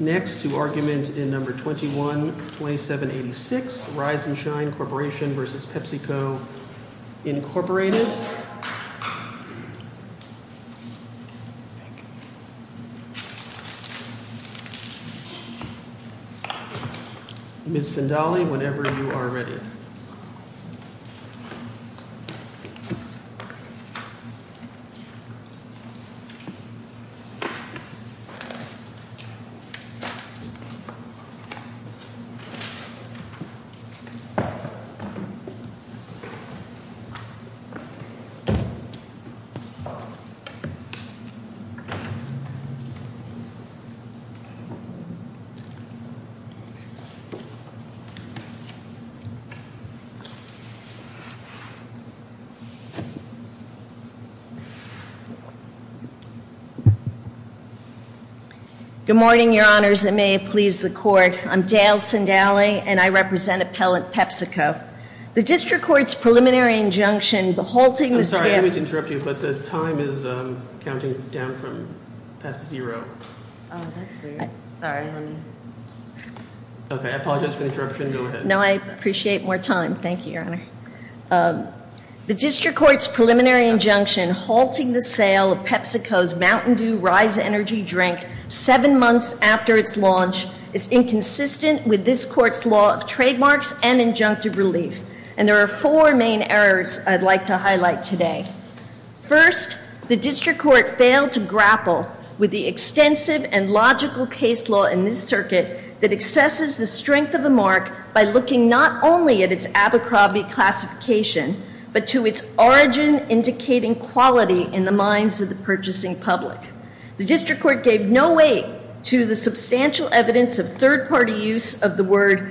Next to argument in number 21 27 86 rise and shine Corporation versus PepsiCo. Good morning, your honors. It may please the court. I'm Dale Sindaly, and I represent appellant PepsiCo. The district court's preliminary injunction, halting the sale. I'm sorry, I didn't mean to interrupt you, but the time is counting down from past zero. Oh, that's weird. Sorry, let me. Okay, I apologize for the interruption. Go ahead. No, I appreciate more time. Thank you, your honor. The district court's preliminary injunction, halting the sale of PepsiCo's Mountain Dew Rise Energy drink, seven months after its launch, is inconsistent with this court's law of trademarks and injunctive relief. And there are four main errors I'd like to highlight today. First, the district court failed to grapple with the extensive and logical case law in this circuit that excesses the strength of a mark by looking not only at its Abercrombie classification, but to its origin indicating quality in the minds of the purchasing public. The district court gave no weight to the substantial evidence of third-party use of the word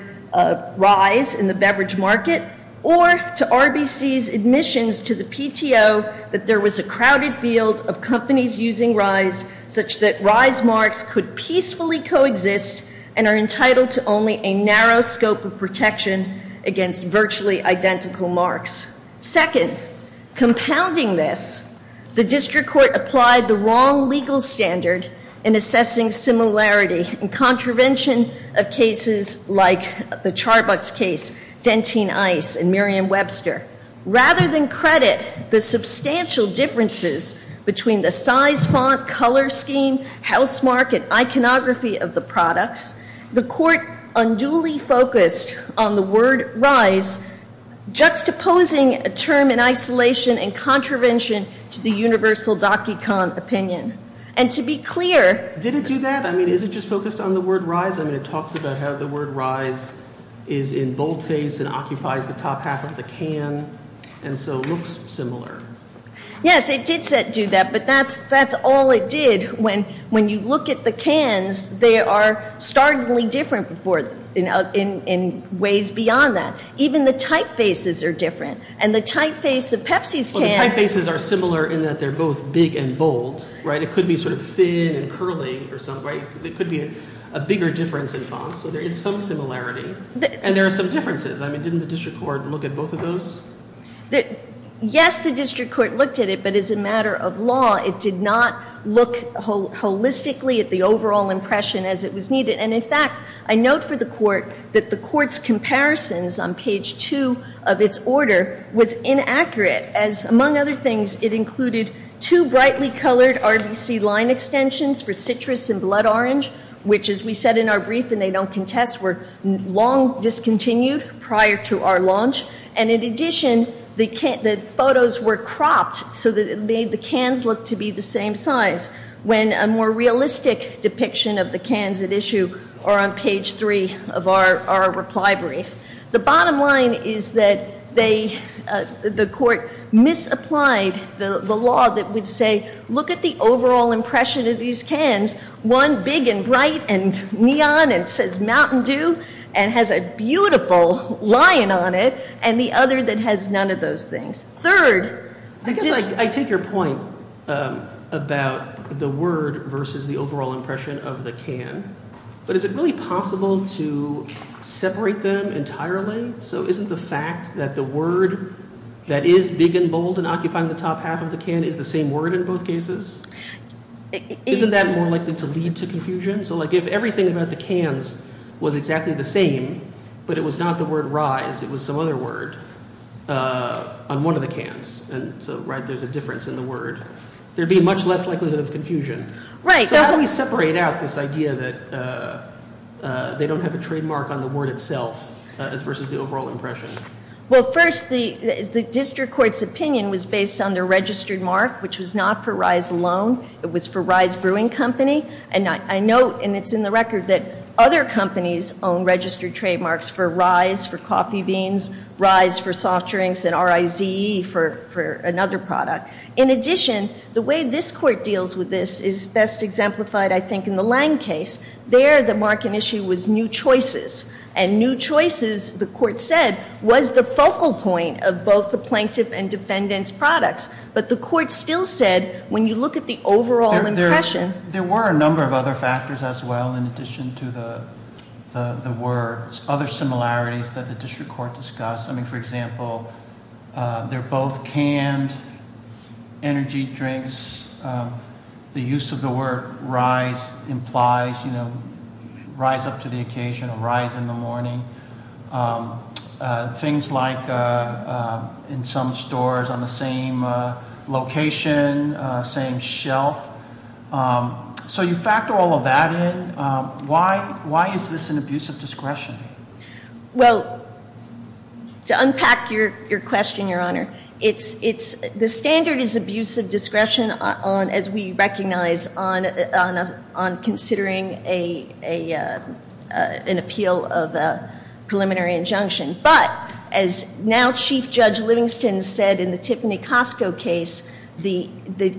rise in the beverage market or to RBC's admissions to the PTO that there was a crowded field of companies using rise such that rise marks could peacefully coexist and are entitled to only a narrow scope of protection against virtually identical marks. Second, compounding this, the district court applied the wrong legal standard in assessing similarity and contravention of cases like the Charbucks case, Dentine Ice, and Miriam Webster. Rather than credit the substantial differences between the size, font, color scheme, house mark, and iconography of the products, the court unduly focused on the word rise, juxtaposing a term in isolation and contravention to the universal DocuCom opinion. And to be clear... Did it do that? I mean, is it just focused on the word rise? I mean, it talks about how the word rise is in boldface and occupies the top half of the can and so looks similar. Yes, it did do that, but that's all it did. When you look at the cans, they are startlingly different in ways beyond that. Even the typefaces are different, and the typeface of Pepsi's can... Well, the typefaces are similar in that they're both big and bold, right? It could be sort of thin and curly or something, right? It could be a bigger difference in font, so there is some similarity, and there are some differences. I mean, didn't the district court look at both of those? Yes, the district court looked at it, but as a matter of law, it did not look holistically at the overall impression as it was needed. And, in fact, I note for the court that the court's comparisons on page 2 of its order was inaccurate, as, among other things, it included two brightly colored RBC line extensions for citrus and blood orange, which, as we said in our brief and they don't contest, were long discontinued prior to our launch. And, in addition, the photos were cropped so that it made the cans look to be the same size, when a more realistic depiction of the cans at issue are on page 3 of our reply brief. The bottom line is that they, the court, misapplied the law that would say, look at the overall impression of these cans, one big and bright and neon and says Mountain Dew and has a beautiful lion on it, and the other that has none of those things. Third, this- I guess I take your point about the word versus the overall impression of the can, but is it really possible to separate them entirely? So isn't the fact that the word that is big and bold and occupying the top half of the can is the same word in both cases? Isn't that more likely to lead to confusion? So, like, if everything about the cans was exactly the same, but it was not the word rise, it was some other word on one of the cans, and so, right, there's a difference in the word, there'd be much less likelihood of confusion. Right. So how do we separate out this idea that they don't have a trademark on the word itself versus the overall impression? Well, first, the district court's opinion was based on their registered mark, which was not for Rise alone. It was for Rise Brewing Company, and I note, and it's in the record, that other companies own registered trademarks for Rise for coffee beans, Rise for soft drinks, and R-I-Z-E for another product. In addition, the way this court deals with this is best exemplified, I think, in the Lang case. There, the market issue was new choices, and new choices, the court said, was the focal point of both the plaintiff and defendant's products. But the court still said, when you look at the overall impression. There were a number of other factors as well in addition to the words, other similarities that the district court discussed. I mean, for example, they're both canned energy drinks. The use of the word Rise implies, you know, rise up to the occasion or rise in the morning. Things like in some stores on the same location, same shelf. So you factor all of that in. Why is this an abuse of discretion? Well, to unpack your question, Your Honor, the standard is abuse of discretion, as we recognize, on considering an appeal of a preliminary injunction. But, as now Chief Judge Livingston said in the Tiffany Costco case, the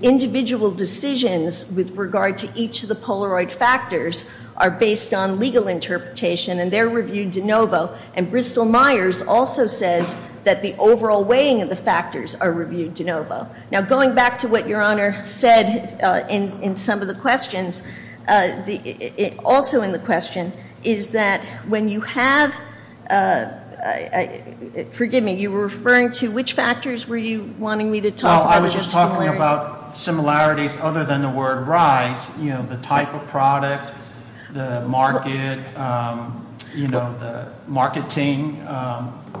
individual decisions with regard to each of the Polaroid factors are based on legal interpretation, and they're reviewed de novo. And Bristol Myers also says that the overall weighing of the factors are reviewed de novo. Now, going back to what Your Honor said in some of the questions, also in the question, is that when you have, forgive me, you were referring to which factors were you wanting me to talk about? I was just talking about similarities other than the word Rise. You know, the type of product, the market, you know, the marketing,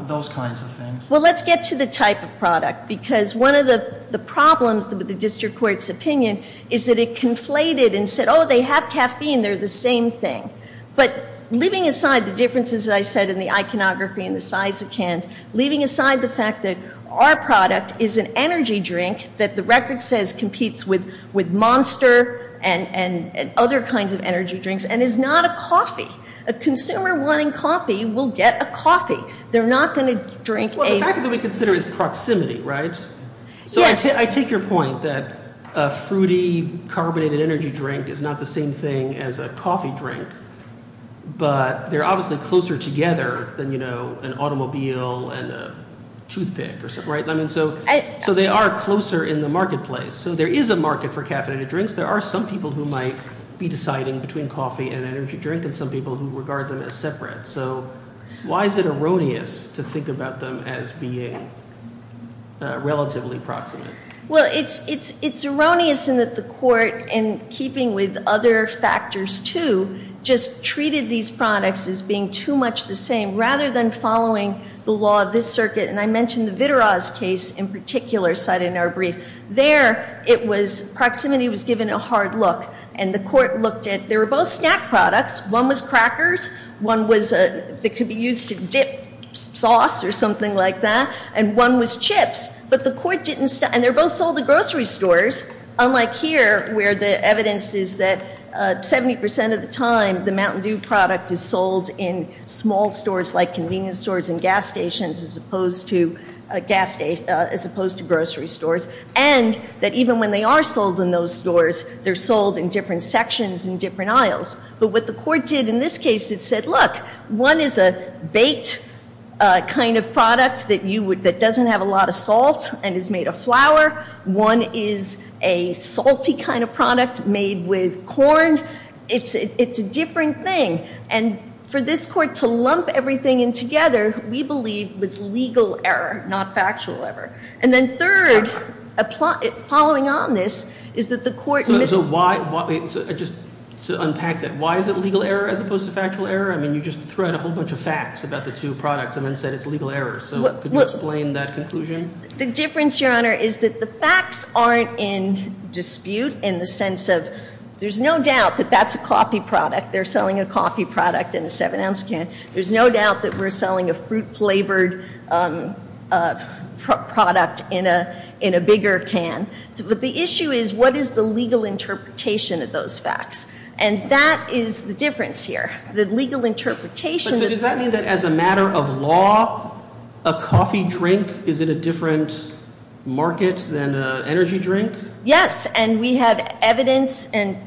those kinds of things. Well, let's get to the type of product, because one of the problems with the district court's opinion is that it conflated and said, oh, they have caffeine, they're the same thing. But leaving aside the differences that I said in the iconography and the size of cans, leaving aside the fact that our product is an energy drink that the record says competes with Monster and other kinds of energy drinks and is not a coffee. A consumer wanting coffee will get a coffee. They're not going to drink a- Well, the factor that we consider is proximity, right? Yes. So I take your point that a fruity carbonated energy drink is not the same thing as a coffee drink, but they're obviously closer together than, you know, an automobile and a toothpick, right? So they are closer in the marketplace. So there is a market for caffeinated drinks. There are some people who might be deciding between coffee and energy drink and some people who regard them as separate. So why is it erroneous to think about them as being relatively proximate? Well, it's erroneous in that the court, in keeping with other factors, too, just treated these products as being too much the same rather than following the law of this circuit. And I mentioned the Vitaraz case in particular cited in our brief. There, it was-proximity was given a hard look. And the court looked at-they were both snack products. One was crackers. One was-it could be used to dip sauce or something like that. And one was chips. But the court didn't-and they're both sold to grocery stores, unlike here where the evidence is that 70% of the time the Mountain Dew product is sold in small stores like convenience stores and gas stations as opposed to grocery stores, and that even when they are sold in those stores, they're sold in different sections and different aisles. But what the court did in this case, it said, look, one is a baked kind of product that doesn't have a lot of salt and is made of flour. One is a salty kind of product made with corn. It's a different thing. And for this court to lump everything in together, we believe, was legal error, not factual error. And then third, following on this, is that the court- Just to unpack that, why is it legal error as opposed to factual error? I mean, you just threw out a whole bunch of facts about the two products and then said it's legal error. So could you explain that conclusion? The difference, Your Honor, is that the facts aren't in dispute in the sense of there's no doubt that that's a coffee product. They're selling a coffee product in a seven-ounce can. There's no doubt that we're selling a fruit-flavored product in a bigger can. But the issue is, what is the legal interpretation of those facts? And that is the difference here. The legal interpretation- But does that mean that as a matter of law, a coffee drink is in a different market than an energy drink? Yes, and we have evidence and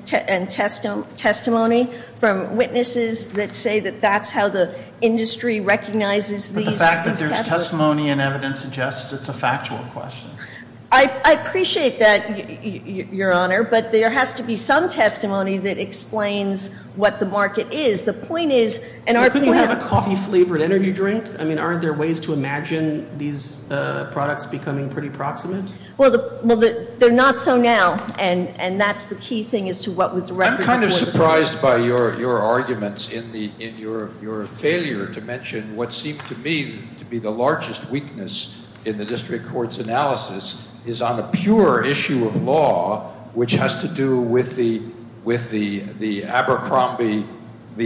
testimony from witnesses that say that that's how the industry recognizes these- But the fact that there's testimony and evidence suggests it's a factual question. I appreciate that, Your Honor, but there has to be some testimony that explains what the market is. The point is, in our plan- But couldn't you have a coffee-flavored energy drink? I mean, aren't there ways to imagine these products becoming pretty proximate? Well, they're not so now, and that's the key thing as to what was- I'm kind of surprised by your arguments in your failure to mention what seemed to me to be the largest weakness in the district court's analysis, is on the pure issue of law, which has to do with the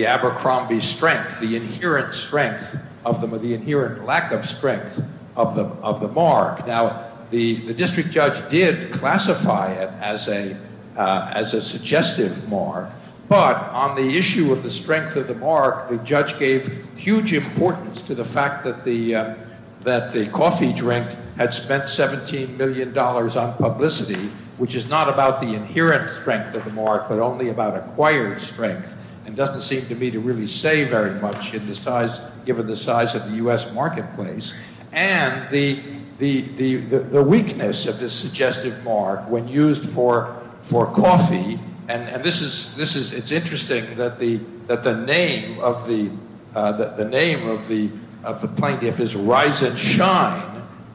Abercrombie strength, the inherent strength of the- the inherent lack of strength of the mark. Now, the district judge did classify it as a suggestive mark, but on the issue of the strength of the mark, the judge gave huge importance to the fact that the coffee drink had spent $17 million on publicity, which is not about the inherent strength of the mark, but only about acquired strength. It doesn't seem to me to really say very much given the size of the U.S. marketplace. And the weakness of the suggestive mark when used for coffee, and this is- it's interesting that the name of the plaintiff is Rise and Shine,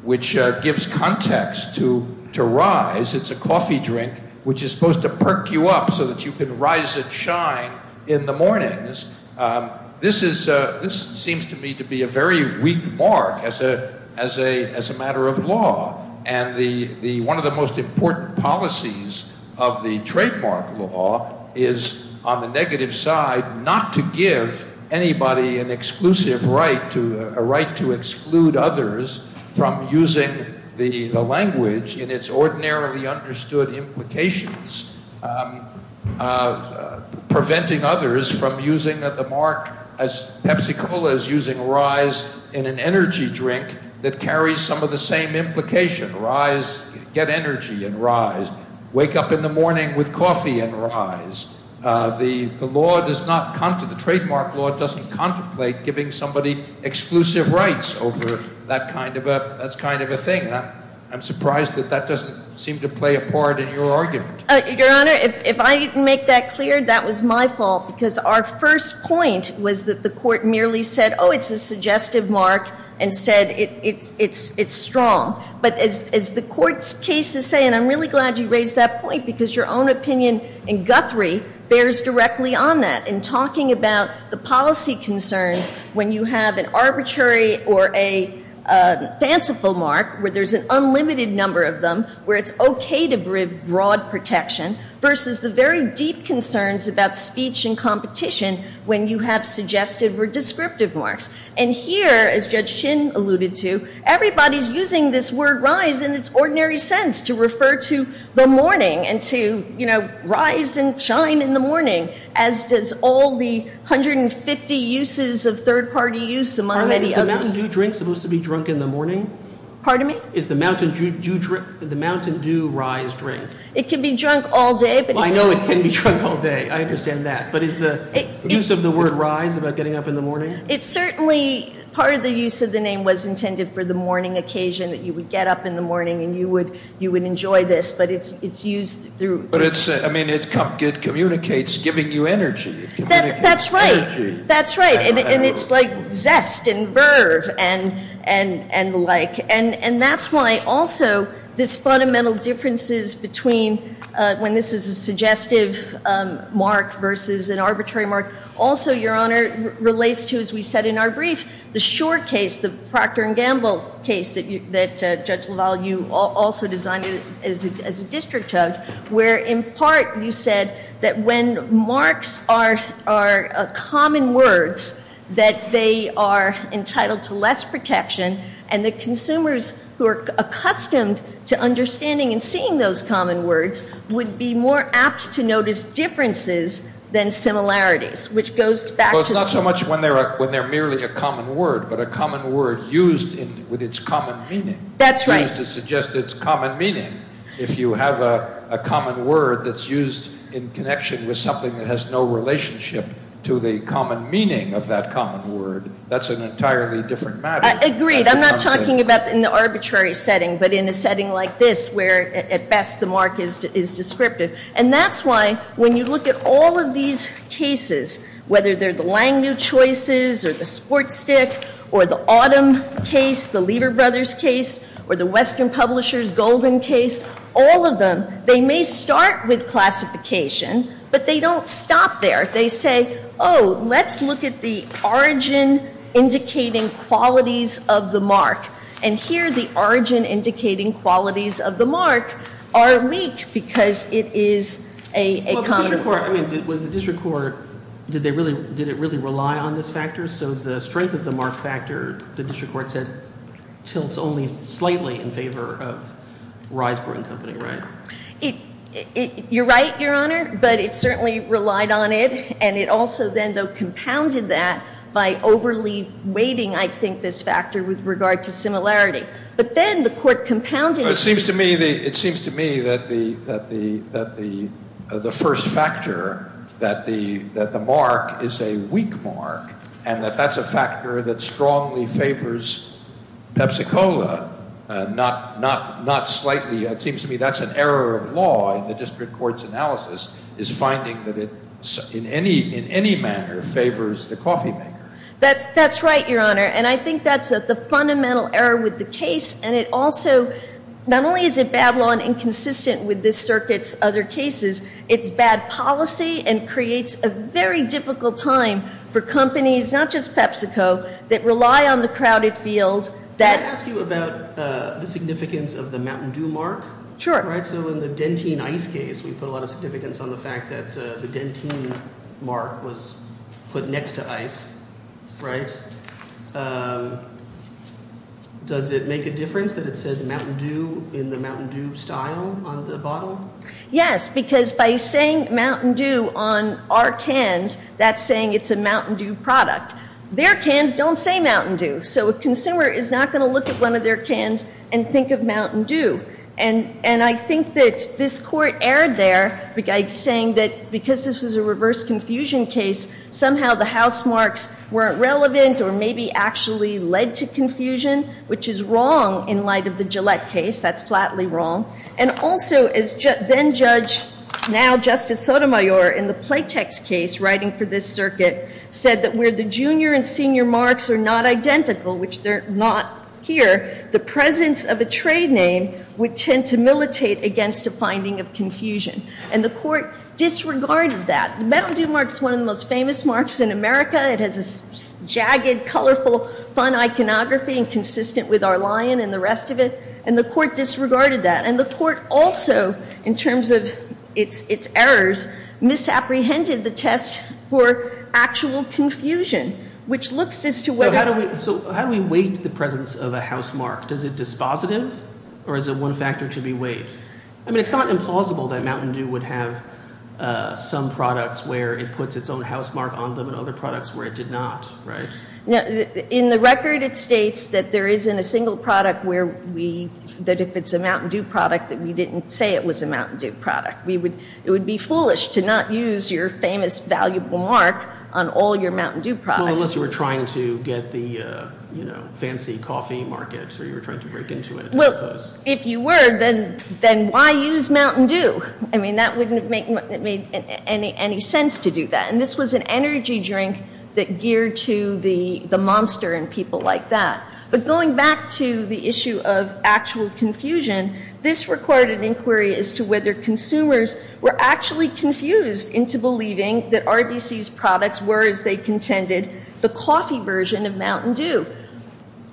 which gives context to Rise. It's a coffee drink which is supposed to perk you up so that you can rise and shine in the mornings. This is- this seems to me to be a very weak mark as a matter of law. And the- one of the most important policies of the trademark law is, on the negative side, not to give anybody an exclusive right to- a right to exclude others from using the language in its ordinarily understood implications, preventing others from using the mark as Pepsi-Cola is using Rise in an energy drink that carries some of the same implication. Rise- get energy in Rise. Wake up in the morning with coffee in Rise. The law does not- the trademark law doesn't contemplate giving somebody exclusive rights over that kind of a thing. I'm surprised that that doesn't seem to play a part in your argument. Your Honor, if I didn't make that clear, that was my fault, because our first point was that the Court merely said, oh, it's a suggestive mark, and said it's strong. But as the Court's cases say, and I'm really glad you raised that point, because your own opinion in Guthrie bears directly on that in talking about the policy concerns when you have an arbitrary or a fanciful mark where there's an unlimited number of them, where it's okay to bring broad protection versus the very deep concerns about speech and competition when you have suggestive or descriptive marks. And here, as Judge Chin alluded to, everybody's using this word Rise in its ordinary sense to refer to the morning and to, you know, rise and shine in the morning, as does all the 150 uses of third-party use, among many others. Is the Mountain Dew drink supposed to be drunk in the morning? Pardon me? Is the Mountain Dew Rise drink? It can be drunk all day, but it's... I know it can be drunk all day. I understand that. But is the use of the word Rise about getting up in the morning? It's certainly part of the use of the name was intended for the morning occasion, that you would get up in the morning and you would enjoy this, but it's used through... But it's, I mean, it communicates giving you energy. That's right. That's right. And it's like zest and verve and the like. And that's why, also, this fundamental differences between when this is a suggestive mark versus an arbitrary mark. Also, Your Honor, relates to, as we said in our brief, the Shore case, the Proctor and Gamble case that Judge LaValle, you also designed it as a district judge, where, in part, you said that when marks are common words, that they are entitled to less protection and the consumers who are accustomed to understanding and seeing those common words would be more apt to notice differences than similarities, which goes back to... Well, it's not so much when they're merely a common word, but a common word used with its common meaning. That's right. Used to suggest its common meaning. If you have a common word that's used in connection with something that has no relationship to the common meaning of that common word, that's an entirely different matter. Agreed. I'm not talking about in the arbitrary setting, but in a setting like this where, at best, the mark is descriptive. And that's why, when you look at all of these cases, whether they're the Langmuir choices or the Sport Stick or the Autumn case, the Lieber Brothers case, or the Western Publishers Golden case, all of them, they may start with classification, but they don't stop there. They say, oh, let's look at the origin-indicating qualities of the mark. And here, the origin-indicating qualities of the mark are weak because it is a common word. Was the district court, did they really, did it really rely on this factor? So the strength of the mark factor, the district court said, tilts only slightly in favor of Riseborough & Company, right? You're right, Your Honor, but it certainly relied on it. And it also then, though, compounded that by overly weighting, I think, this factor with regard to similarity. But then the court compounded it. But it seems to me that the first factor, that the mark is a weak mark, and that that's a factor that strongly favors Pepsi-Cola, not slightly. It seems to me that's an error of law in the district court's analysis, is finding that it in any manner favors the coffee maker. That's right, Your Honor, and I think that's the fundamental error with the case. And it also, not only is it bad law and inconsistent with this circuit's other cases, it's bad policy and creates a very difficult time for companies, not just PepsiCo, that rely on the crowded field. Can I ask you about the significance of the Mountain Dew mark? Sure. All right, so in the Dentine Ice case, we put a lot of significance on the fact that the Dentine mark was put next to ice, right? And does it make a difference that it says Mountain Dew in the Mountain Dew style on the bottle? Yes, because by saying Mountain Dew on our cans, that's saying it's a Mountain Dew product. Their cans don't say Mountain Dew. So a consumer is not going to look at one of their cans and think of Mountain Dew. And I think that this court erred there by saying that because this was a reverse confusion case, somehow the house marks weren't relevant or maybe actually led to confusion, which is wrong in light of the Gillette case. That's flatly wrong. And also, as then-judge, now Justice Sotomayor, in the Playtex case writing for this circuit, said that where the junior and senior marks are not identical, which they're not here, the presence of a trade name would tend to militate against a finding of confusion. And the court disregarded that. The Mountain Dew mark is one of the most famous marks in America. It has a jagged, colorful, fun iconography and consistent with our lion and the rest of it. And the court disregarded that. And the court also, in terms of its errors, misapprehended the test for actual confusion, which looks as to whether— So how do we weight the presence of a house mark? Is it dispositive or is it one factor to be weighed? I mean, it's not implausible that Mountain Dew would have some products where it puts its own house mark on them and other products where it did not, right? In the record, it states that there isn't a single product where we—that if it's a Mountain Dew product, that we didn't say it was a Mountain Dew product. It would be foolish to not use your famous, valuable mark on all your Mountain Dew products. Well, unless you were trying to get the fancy coffee market or you were trying to break into it, I suppose. If you were, then why use Mountain Dew? I mean, that wouldn't have made any sense to do that. And this was an energy drink that geared to the monster and people like that. But going back to the issue of actual confusion, this recorded inquiry as to whether consumers were actually confused into believing that RBC's products were, as they contended, the coffee version of Mountain Dew.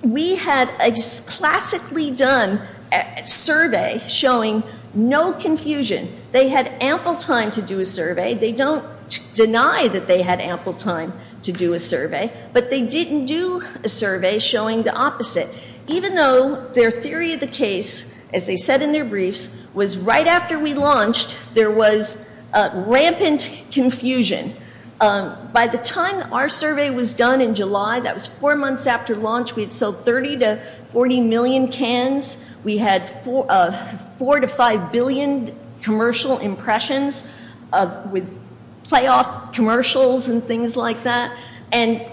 We had a classically done survey showing no confusion. They had ample time to do a survey. They don't deny that they had ample time to do a survey. But they didn't do a survey showing the opposite. Even though their theory of the case, as they said in their briefs, was right after we launched, there was rampant confusion. By the time our survey was done in July, that was four months after launch, we had sold 30 to 40 million cans. We had 4 to 5 billion commercial impressions with playoff commercials and things like that. And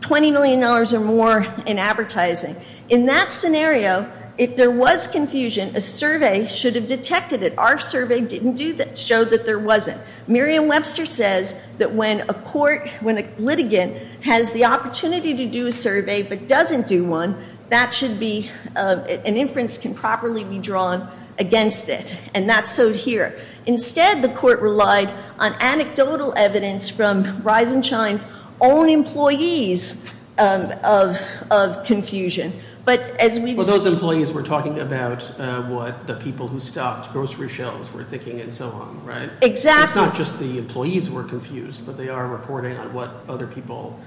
$20 million or more in advertising. In that scenario, if there was confusion, a survey should have detected it. Our survey didn't do that, showed that there wasn't. Merriam-Webster says that when a court, when a litigant has the opportunity to do a survey but doesn't do one, that should be, an inference can properly be drawn against it. And that's so here. Instead, the court relied on anecdotal evidence from Reisenstein's own employees of confusion. But as we've seen- Well, those employees were talking about what the people who stopped, grocery shelves were thinking and so on, right? Exactly. It's not just the employees who were confused, but they are reporting on what other people,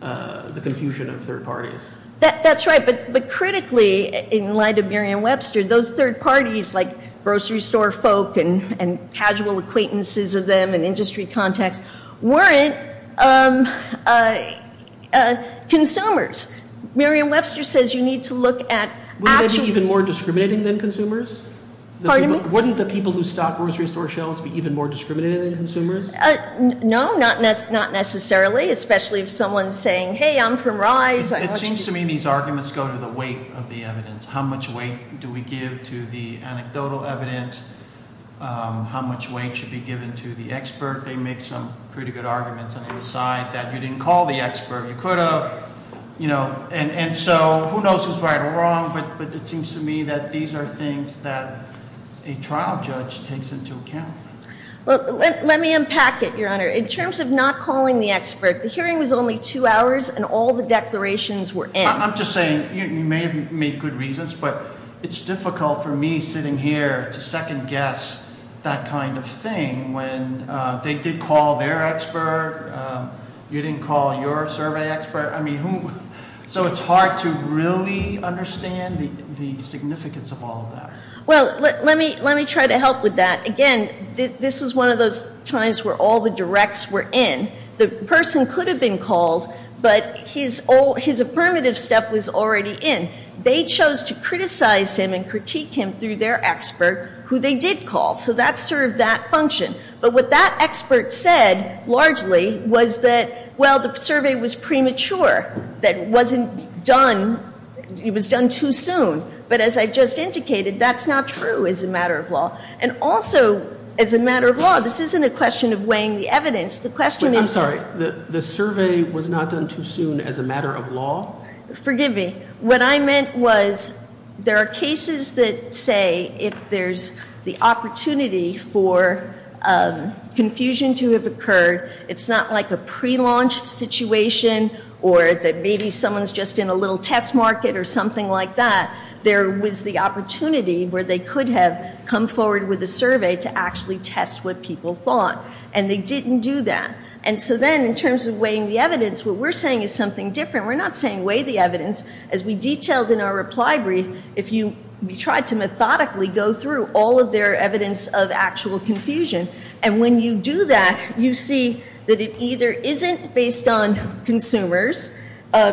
the confusion of third parties. That's right. But critically, in light of Merriam-Webster, those third parties, like grocery store folk and casual acquaintances of them and industry contacts, weren't consumers. Merriam-Webster says you need to look at- Wouldn't that be even more discriminating than consumers? Pardon me? Wouldn't the people who stopped grocery store shelves be even more discriminating than consumers? No, not necessarily, especially if someone's saying, hey, I'm from Rise. It seems to me these arguments go to the weight of the evidence. How much weight do we give to the anecdotal evidence? How much weight should be given to the expert? They make some pretty good arguments on the side that you didn't call the expert. You could have. And so who knows who's right or wrong, but it seems to me that these are things that a trial judge takes into account. Let me unpack it, Your Honor. In terms of not calling the expert, the hearing was only two hours and all the declarations were in. I'm just saying you may have made good reasons, but it's difficult for me sitting here to second guess that kind of thing. They did call their expert. You didn't call your survey expert. I mean, so it's hard to really understand the significance of all of that. Well, let me try to help with that. Again, this was one of those times where all the directs were in. The person could have been called, but his affirmative step was already in. They chose to criticize him and critique him through their expert who they did call. So that served that function. But what that expert said, largely, was that, well, the survey was premature, that it wasn't done, it was done too soon. But as I've just indicated, that's not true as a matter of law. And also, as a matter of law, this isn't a question of weighing the evidence. The question is- I'm sorry. The survey was not done too soon as a matter of law? Forgive me. What I meant was there are cases that say if there's the opportunity for confusion to have occurred, it's not like a prelaunch situation or that maybe someone's just in a little test market or something like that. There was the opportunity where they could have come forward with a survey to actually test what people thought. And they didn't do that. And so then, in terms of weighing the evidence, what we're saying is something different. We're not saying weigh the evidence. As we detailed in our reply brief, we tried to methodically go through all of their evidence of actual confusion. And when you do that, you see that it either isn't based on consumers,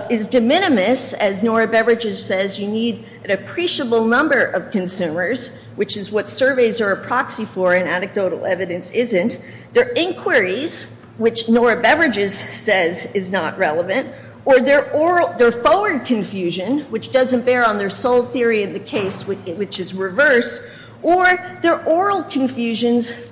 is de minimis, as Nora Beverages says, you need an appreciable number of consumers, which is what surveys are a proxy for and anecdotal evidence isn't. Their inquiries, which Nora Beverages says is not relevant, or their forward confusion, which doesn't bear on their sole theory of the case, which is reverse, or their oral communications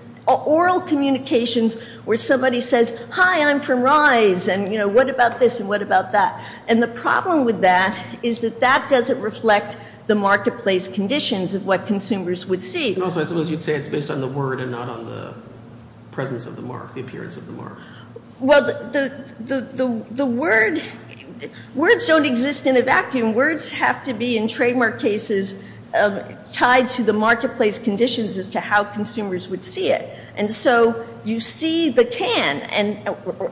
where somebody says, hi, I'm from RISE, and what about this and what about that? And the problem with that is that that doesn't reflect the marketplace conditions of what consumers would see. Also, I suppose you'd say it's based on the word and not on the presence of the mark, the appearance of the mark. Well, the words don't exist in a vacuum. Words have to be, in trademark cases, tied to the marketplace conditions as to how consumers would see it. And so you see the can,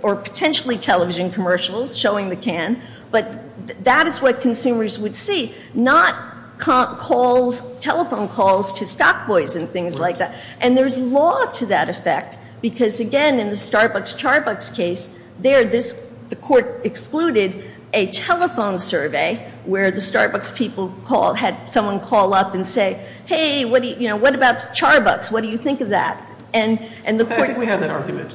or potentially television commercials showing the can, but that is what consumers would see, not telephone calls to stock boys and things like that. And there's law to that effect because, again, in the Starbucks-Charbucks case, there the court excluded a telephone survey where the Starbucks people had someone call up and say, hey, what about Charbucks, what do you think of that? I think we have that argument.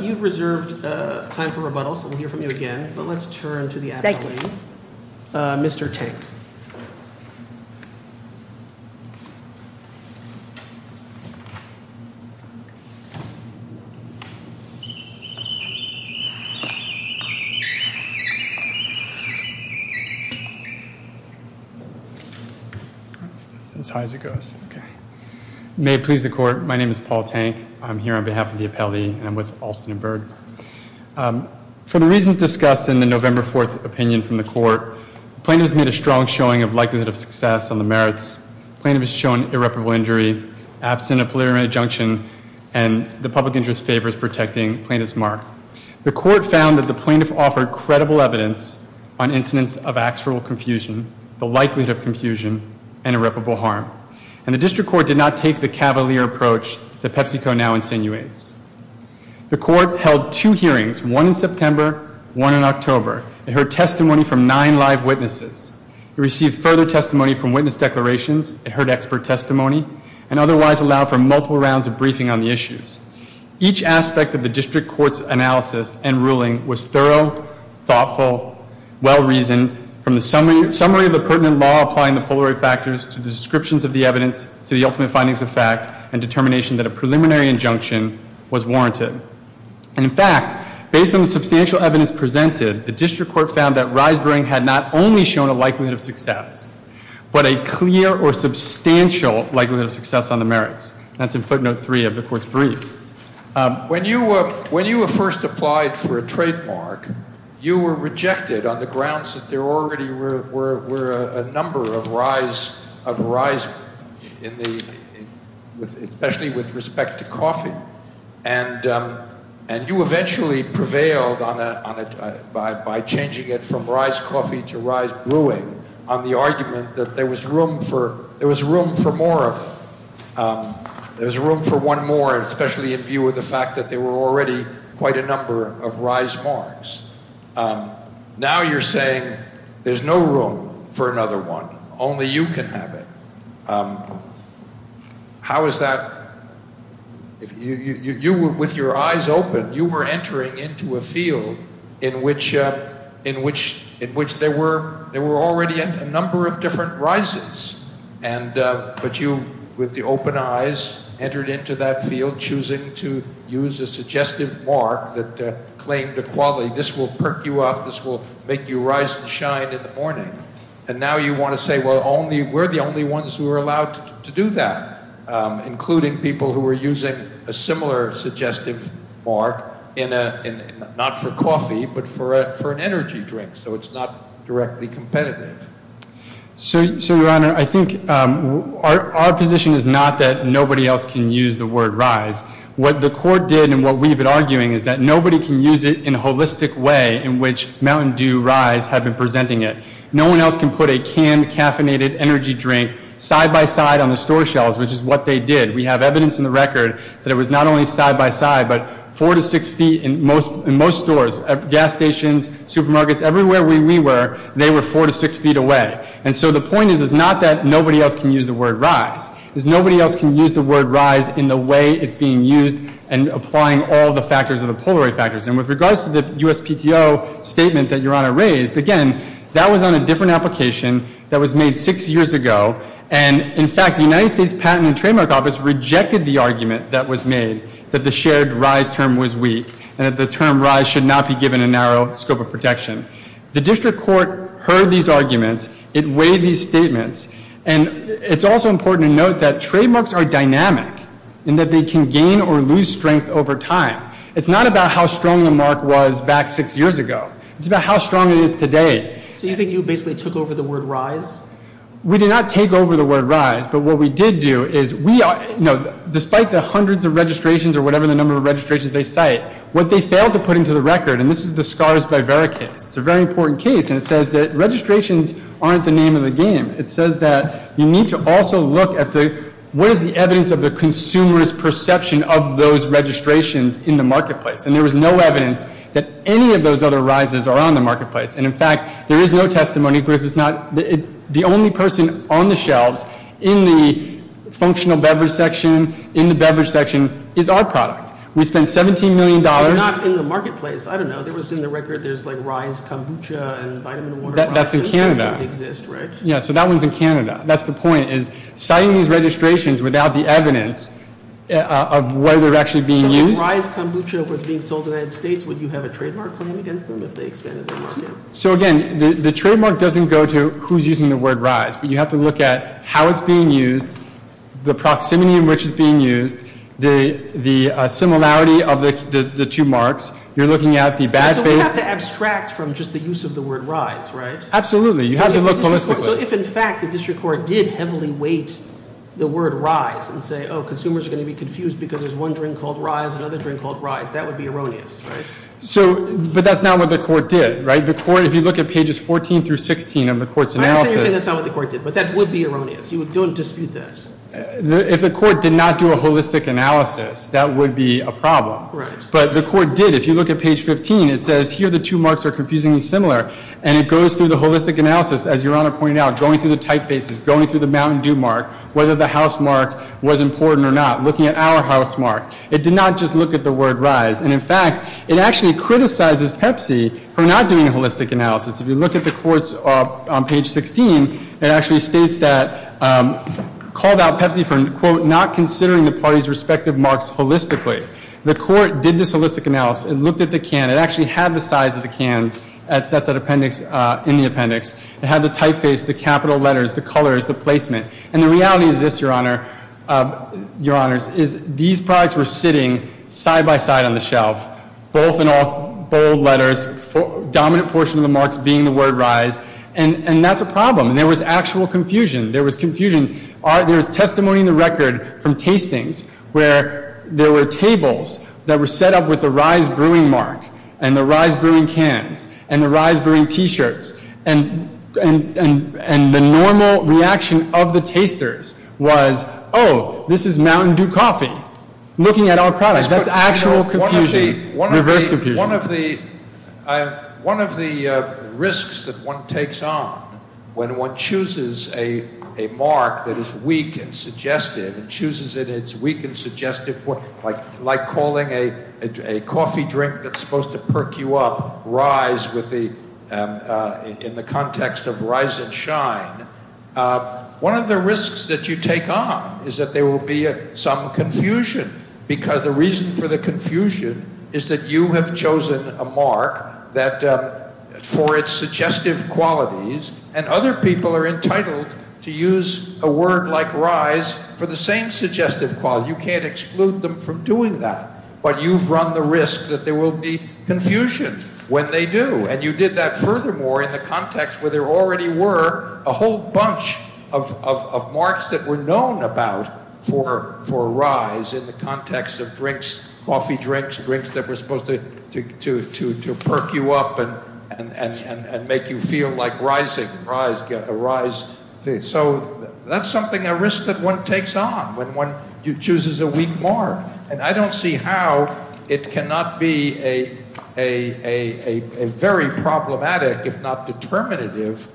You've reserved time for rebuttal, so we'll hear from you again. But let's turn to the appellee. Thank you. Mr. Tank. That's as high as it goes. May it please the court, my name is Paul Tank. I'm here on behalf of the appellee, and I'm with Alston and Berg. For the reasons discussed in the November 4th opinion from the court, the plaintiff has made a strong showing of likelihood of success on the merits. The plaintiff has shown irreparable injury, absent of preliminary injunction, and the public interest favors protecting Plaintiff's Mark. The court found that the plaintiff offered credible evidence on incidents of actual confusion, the likelihood of confusion, and irreparable harm. And the district court did not take the cavalier approach that PepsiCo now insinuates. The court held two hearings, one in September, one in October. It heard testimony from nine live witnesses. It received further testimony from witness declarations. It heard expert testimony, and otherwise allowed for multiple rounds of briefing on the issues. Each aspect of the district court's analysis and ruling was thorough, thoughtful, well-reasoned, from the summary of the pertinent law applying the polarity factors to the descriptions of the evidence to the ultimate findings of fact and determination that a preliminary injunction was warranted. And, in fact, based on the substantial evidence presented, the district court found that Reisbering had not only shown a likelihood of success, but a clear or substantial likelihood of success on the merits. That's in footnote three of the court's brief. When you were first applied for a trademark, you were rejected on the grounds that there already were a number of Reisberg especially with respect to coffee. And you eventually prevailed by changing it from Reis Coffee to Reis Brewing on the argument that there was room for more of it. There was room for one more, especially in view of the fact that there were already quite a number of Reismarks. Now you're saying there's no room for another one. Only you can have it. How is that? With your eyes open, you were entering into a field in which there were already a number of different rises. But you, with the open eyes, entered into that field choosing to use a suggestive mark that claimed a quality. This will perk you up. This will make you rise and shine in the morning. And now you want to say, well, we're the only ones who are allowed to do that, including people who are using a similar suggestive mark, not for coffee, but for an energy drink. So it's not directly competitive. So, Your Honor, I think our position is not that nobody else can use the word rise. What the court did and what we've been arguing is that nobody can use it in a holistic way in which Mountain Dew Rise have been presenting it. No one else can put a canned, caffeinated energy drink side-by-side on the store shelves, which is what they did. We have evidence in the record that it was not only side-by-side, but four to six feet in most stores, gas stations, supermarkets, everywhere we were, they were four to six feet away. And so the point is it's not that nobody else can use the word rise. It's nobody else can use the word rise in the way it's being used and applying all the factors of the Polaroid factors. And with regards to the USPTO statement that Your Honor raised, again, that was on a different application that was made six years ago. And, in fact, the United States Patent and Trademark Office rejected the argument that was made that the shared rise term was weak and that the term rise should not be given a narrow scope of protection. The district court heard these arguments. It weighed these statements. And it's also important to note that trademarks are dynamic in that they can gain or lose strength over time. It's not about how strong the mark was back six years ago. It's about how strong it is today. So you think you basically took over the word rise? We did not take over the word rise. But what we did do is we are, you know, despite the hundreds of registrations or whatever the number of registrations they cite, what they failed to put into the record, and this is the Scars by Vera case, it's a very important case, and it says that registrations aren't the name of the game. It says that you need to also look at the, what is the evidence of the consumer's perception of those registrations in the marketplace? And there was no evidence that any of those other rises are on the marketplace. And, in fact, there is no testimony because it's not, the only person on the shelves in the functional beverage section, in the beverage section, is our product. We spent $17 million. Not in the marketplace. I don't know. It was in the record. There's like rise kombucha and vitamin water. That's in Canada. Those exist, right? Yeah, so that one's in Canada. That's the point, is citing these registrations without the evidence of whether they're actually being used. So if rise kombucha was being sold in the United States, would you have a trademark claim against them if they expanded the list? So, again, the trademark doesn't go to who's using the word rise, but you have to look at how it's being used, the proximity in which it's being used, the similarity of the two marks. You're looking at the bad faith. So we have to abstract from just the use of the word rise, right? Absolutely. You have to look holistically. So if, in fact, the district court did heavily weight the word rise and say, oh, consumers are going to be confused because there's one drink called rise, another drink called rise, that would be erroneous, right? But that's not what the court did, right? If you look at pages 14 through 16 of the court's analysis. I understand you're saying that's not what the court did, but that would be erroneous. You don't dispute that. If the court did not do a holistic analysis, that would be a problem. But the court did. If you look at page 15, it says here the two marks are confusingly similar, and it goes through the holistic analysis, as Your Honor pointed out, going through the typefaces, going through the Mountain Dew mark, whether the house mark was important or not, looking at our house mark. It did not just look at the word rise. And, in fact, it actually criticizes Pepsi for not doing a holistic analysis. If you look at the courts on page 16, it actually states that, called out Pepsi for, quote, not considering the parties' respective marks holistically. The court did this holistic analysis. It looked at the can. It actually had the size of the cans that's in the appendix. It had the typeface, the capital letters, the colors, the placement. And the reality is this, Your Honor, Your Honors, is these products were sitting side by side on the shelf, both in all bold letters, dominant portion of the marks being the word rise, and that's a problem. And there was actual confusion. There was confusion. There was testimony in the record from tastings where there were tables that were set up with the rise brewing mark and the rise brewing cans and the rise brewing T-shirts. And the normal reaction of the tasters was, oh, this is Mountain Dew coffee, looking at our product. That's actual confusion, reverse confusion. One of the risks that one takes on when one chooses a mark that is weak and suggestive and chooses it as weak and suggestive, like calling a coffee drink that's supposed to perk you up rise in the context of rise and shine, one of the risks that you take on is that there will be some confusion because the reason for the confusion is that you have chosen a mark that for its suggestive qualities and other people are entitled to use a word like rise for the same suggestive quality. You can't exclude them from doing that. But you've run the risk that there will be confusion when they do. And you did that furthermore in the context where there already were a whole bunch of marks that were known about for rise in the context of drinks, coffee drinks, drinks that were supposed to perk you up and make you feel like rising, rise. So that's something, a risk that one takes on when one chooses a weak mark. And I don't see how it cannot be a very problematic if not determinative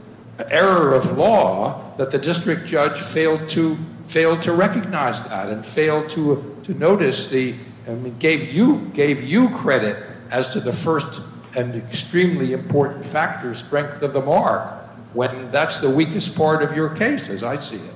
error of law that the district judge failed to recognize that and failed to notice the, I mean, gave you credit as to the first and extremely important factor, strength of the mark. I mean, that's the weakest part of your case, as I see it.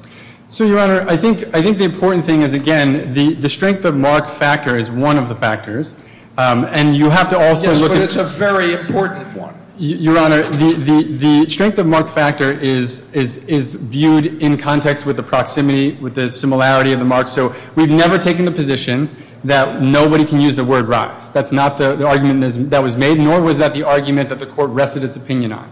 So, Your Honor, I think the important thing is, again, the strength of mark factor is one of the factors. And you have to also look at – Yes, but it's a very important one. Your Honor, the strength of mark factor is viewed in context with the proximity, with the similarity of the mark. So we've never taken the position that nobody can use the word rise. That's not the argument that was made, nor was that the argument that the court rested its opinion on.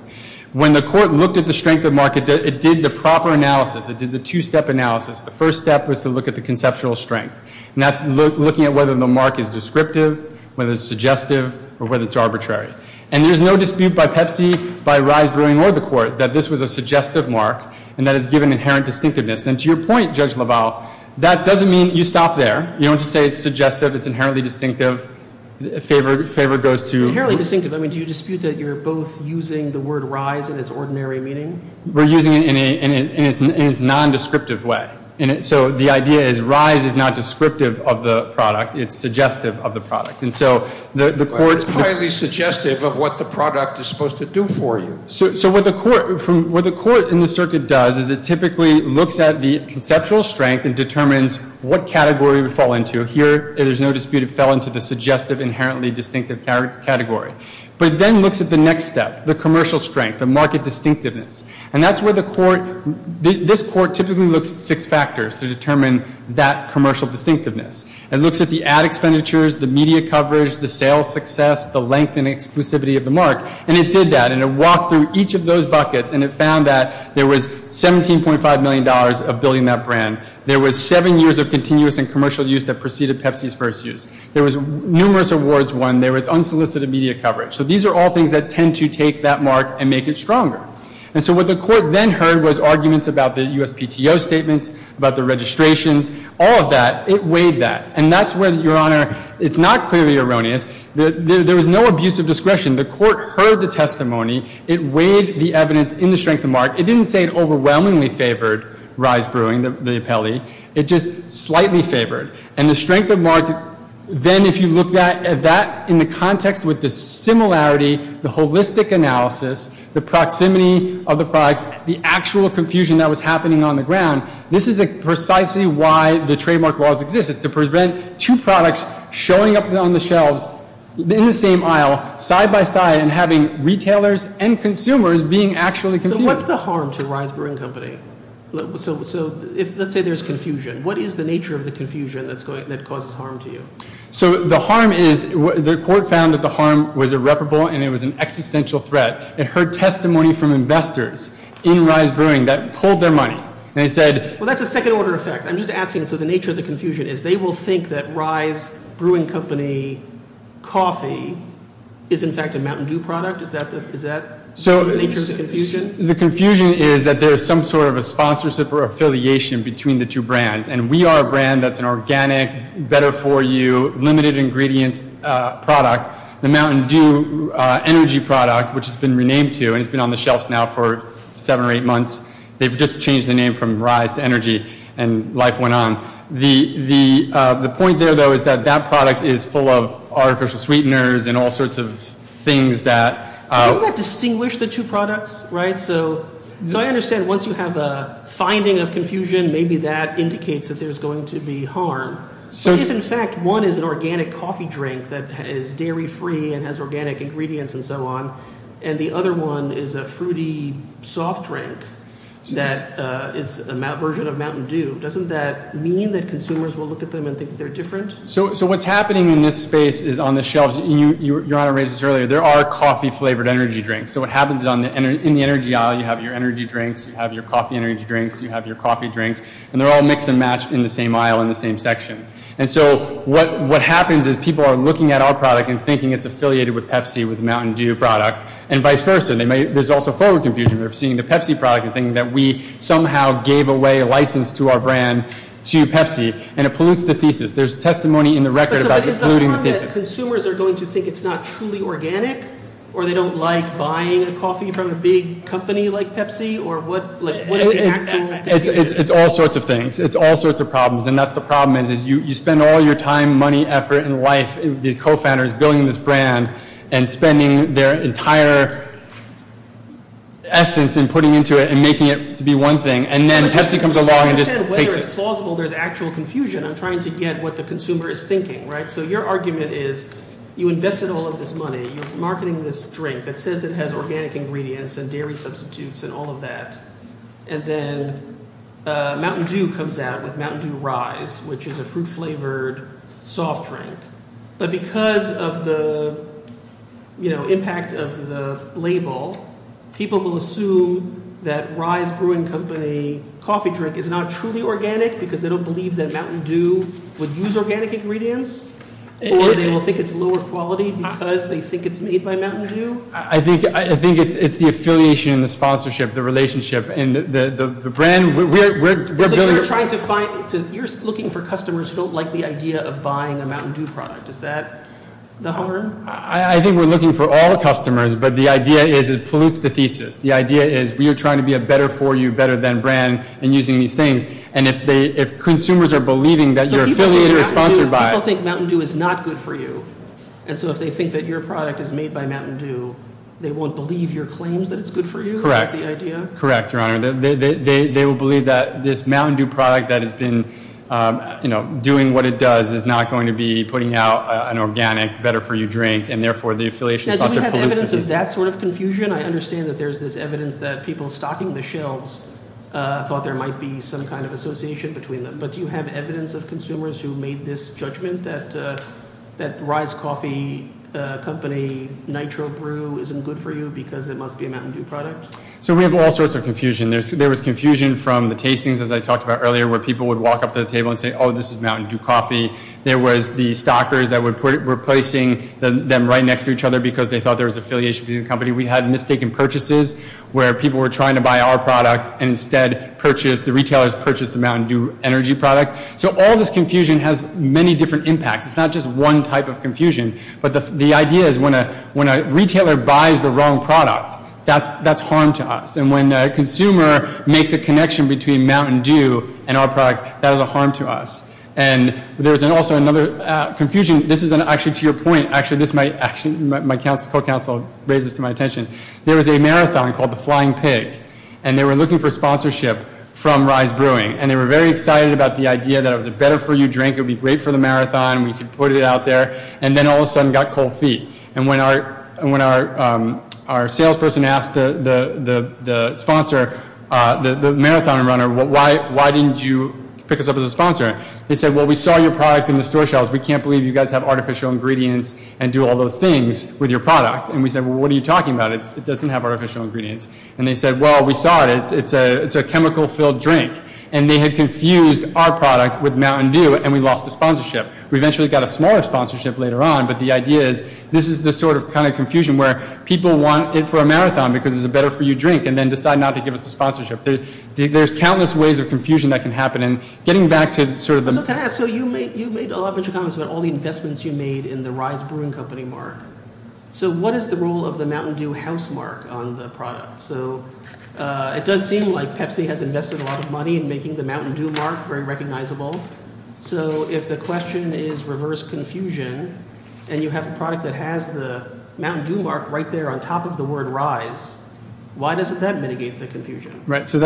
When the court looked at the strength of mark, it did the proper analysis. It did the two-step analysis. The first step was to look at the conceptual strength. And that's looking at whether the mark is descriptive, whether it's suggestive, or whether it's arbitrary. And there's no dispute by Pepsi, by Rise Brewing, or the court that this was a suggestive mark and that it's given inherent distinctiveness. And to your point, Judge LaValle, that doesn't mean you stop there. You don't just say it's suggestive, it's inherently distinctive. Favor goes to – Inherently distinctive. I mean, do you dispute that you're both using the word rise in its ordinary meaning? We're using it in its nondescriptive way. So the idea is rise is not descriptive of the product. It's suggestive of the product. And so the court – Highly suggestive of what the product is supposed to do for you. So what the court in the circuit does is it typically looks at the conceptual strength and determines what category it would fall into. Here, there's no dispute it fell into the suggestive, inherently distinctive category. But it then looks at the next step, the commercial strength, the market distinctiveness. And that's where the court – this court typically looks at six factors to determine that commercial distinctiveness. It looks at the ad expenditures, the media coverage, the sales success, the length and exclusivity of the mark. And it did that. And it walked through each of those buckets. And it found that there was $17.5 million of building that brand. There was seven years of continuous and commercial use that preceded Pepsi's first use. There was numerous awards won. There was unsolicited media coverage. So these are all things that tend to take that mark and make it stronger. And so what the court then heard was arguments about the USPTO statements, about the registrations. All of that, it weighed that. And that's where, Your Honor, it's not clearly erroneous. There was no abuse of discretion. The court heard the testimony. It weighed the evidence in the strength of mark. It didn't say it overwhelmingly favored Rye's Brewing, the appellee. It just slightly favored. And the strength of mark, then if you look at that in the context with the similarity, the holistic analysis, the proximity of the products, the actual confusion that was happening on the ground, this is precisely why the trademark laws exist. It's to prevent two products showing up on the shelves in the same aisle, side by side, and having retailers and consumers being actually confused. So what's the harm to Rye's Brewing Company? So let's say there's confusion. What is the nature of the confusion that causes harm to you? So the harm is the court found that the harm was irreparable and it was an existential threat. It heard testimony from investors in Rye's Brewing that pulled their money. Well, that's a second-order effect. I'm just asking, so the nature of the confusion is they will think that Rye's Brewing Company coffee is, in fact, a Mountain Dew product? Is that the nature of the confusion? The confusion is that there is some sort of a sponsorship or affiliation between the two brands, and we are a brand that's an organic, better-for-you, limited-ingredients product. The Mountain Dew energy product, which it's been renamed to and it's been on the shelves now for seven or eight months, they've just changed the name from Rye's to energy, and life went on. The point there, though, is that that product is full of artificial sweeteners and all sorts of things that— Doesn't that distinguish the two products, right? So I understand once you have a finding of confusion, maybe that indicates that there's going to be harm. But if, in fact, one is an organic coffee drink that is dairy-free and has organic ingredients and so on, and the other one is a fruity soft drink that is a version of Mountain Dew, doesn't that mean that consumers will look at them and think they're different? So what's happening in this space is on the shelves—your Honor raised this earlier— there are coffee-flavored energy drinks. So what happens is in the energy aisle, you have your energy drinks, you have your coffee energy drinks, you have your coffee drinks, and they're all mixed and matched in the same aisle in the same section. And so what happens is people are looking at our product and thinking it's affiliated with Pepsi, with the Mountain Dew product, and vice versa. There's also forward confusion. They're seeing the Pepsi product and thinking that we somehow gave away a license to our brand to Pepsi, and it pollutes the thesis. There's testimony in the record about it polluting the thesis. But is the harm that consumers are going to think it's not truly organic, or they don't like buying a coffee from a big company like Pepsi, or what is the actual— It's all sorts of things. It's all sorts of problems. And that's the problem is you spend all your time, money, effort, and life, the co-founders, building this brand, and spending their entire essence in putting into it and making it to be one thing, and then Pepsi comes along and just takes it. Whether it's plausible, there's actual confusion. I'm trying to get what the consumer is thinking, right? So your argument is you invested all of this money. You're marketing this drink that says it has organic ingredients and dairy substitutes and all of that. And then Mountain Dew comes out with Mountain Dew Rise, which is a fruit-flavored soft drink. But because of the impact of the label, people will assume that Rise Brewing Company coffee drink is not truly organic because they don't believe that Mountain Dew would use organic ingredients, or they will think it's lower quality because they think it's made by Mountain Dew? I think it's the affiliation and the sponsorship, the relationship, and the brand. It's like you're looking for customers who don't like the idea of buying a Mountain Dew product. Is that the harm? I think we're looking for all customers, but the idea is it pollutes the thesis. The idea is we are trying to be a better-for-you, better-than brand in using these things. And if consumers are believing that your affiliator is sponsored by— So people think Mountain Dew is not good for you. And so if they think that your product is made by Mountain Dew, they won't believe your claims that it's good for you? Correct. Correct, Your Honor. They will believe that this Mountain Dew product that has been doing what it does is not going to be putting out an organic, better-for-you drink, and therefore the affiliation sponsorship pollutes the thesis. Now, do we have evidence of that sort of confusion? I understand that there's this evidence that people stocking the shelves thought there might be some kind of association between them. But do you have evidence of consumers who made this judgment that Rise Coffee Company Nitro Brew isn't good for you because it must be a Mountain Dew product? So we have all sorts of confusion. There was confusion from the tastings, as I talked about earlier, where people would walk up to the table and say, oh, this is Mountain Dew coffee. There was the stockers that were placing them right next to each other because they thought there was affiliation between the company. We had mistaken purchases where people were trying to buy our product and instead the retailers purchased the Mountain Dew Energy product. So all this confusion has many different impacts. It's not just one type of confusion. But the idea is when a retailer buys the wrong product, that's harm to us. And when a consumer makes a connection between Mountain Dew and our product, that is a harm to us. And there's also another confusion. This is actually to your point. Actually, my co-counsel raised this to my attention. There was a marathon called the Flying Pig, and they were looking for sponsorship from Rise Brewing. And they were very excited about the idea that it was a better-for-you drink. It would be great for the marathon. We could put it out there. And then all of a sudden it got cold feet. And when our salesperson asked the sponsor, the marathon runner, why didn't you pick us up as a sponsor? They said, well, we saw your product in the store shelves. We can't believe you guys have artificial ingredients and do all those things with your product. And we said, well, what are you talking about? It doesn't have artificial ingredients. And they said, well, we saw it. It's a chemical-filled drink. And they had confused our product with Mountain Dew, and we lost the sponsorship. We eventually got a smaller sponsorship later on. But the idea is this is the sort of kind of confusion where people want it for a marathon because it's a better-for-you drink and then decide not to give us the sponsorship. There's countless ways of confusion that can happen. So can I ask, so you made a lot of comments about all the investments you made in the Rise Brewing Company mark. So what is the role of the Mountain Dew house mark on the product? So it does seem like Pepsi has invested a lot of money in making the Mountain Dew mark very recognizable. So if the question is reverse confusion and you have a product that has the Mountain Dew mark right there on top of the word Rise, why doesn't that mitigate the confusion? Right. So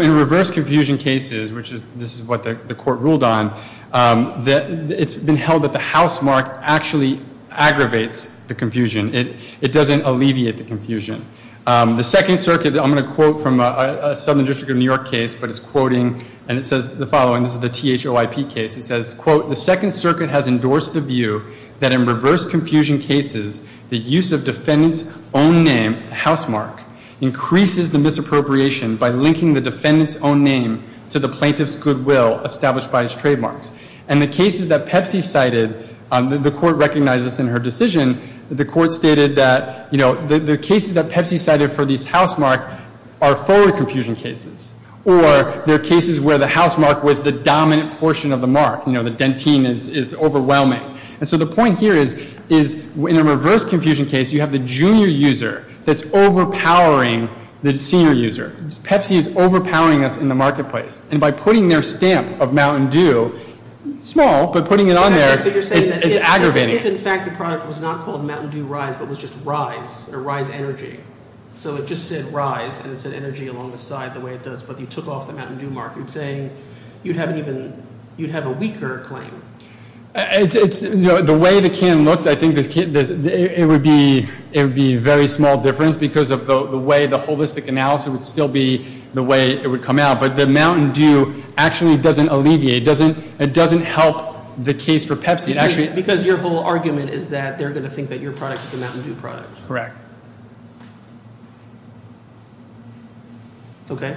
in reverse confusion cases, which this is what the court ruled on, it's been held that the house mark actually aggravates the confusion. It doesn't alleviate the confusion. The Second Circuit, I'm going to quote from a Southern District of New York case, but it's quoting, and it says the following. This is the THOIP case. It says, quote, the Second Circuit has endorsed the view that in reverse confusion cases, the use of defendant's own name, house mark, increases the misappropriation by linking the defendant's own name to the plaintiff's goodwill established by his trademarks. And the cases that Pepsi cited, the court recognized this in her decision, the court stated that, you know, the cases that Pepsi cited for this house mark are forward confusion cases or they're cases where the house mark was the dominant portion of the mark. You know, the dentine is overwhelming. And so the point here is in a reverse confusion case, you have the junior user that's overpowering the senior user. Pepsi is overpowering us in the marketplace. And by putting their stamp of Mountain Dew, small, but putting it on there, it's aggravating. If, in fact, the product was not called Mountain Dew Rise but was just Rise or Rise Energy, so it just said Rise and it said Energy along the side the way it does, but you took off the Mountain Dew mark, you'd say you'd have a weaker claim. It's, you know, the way the can looks, I think it would be a very small difference because of the way the holistic analysis would still be the way it would come out. But the Mountain Dew actually doesn't alleviate, it doesn't help the case for Pepsi. Because your whole argument is that they're going to think that your product is a Mountain Dew product. Correct. Okay.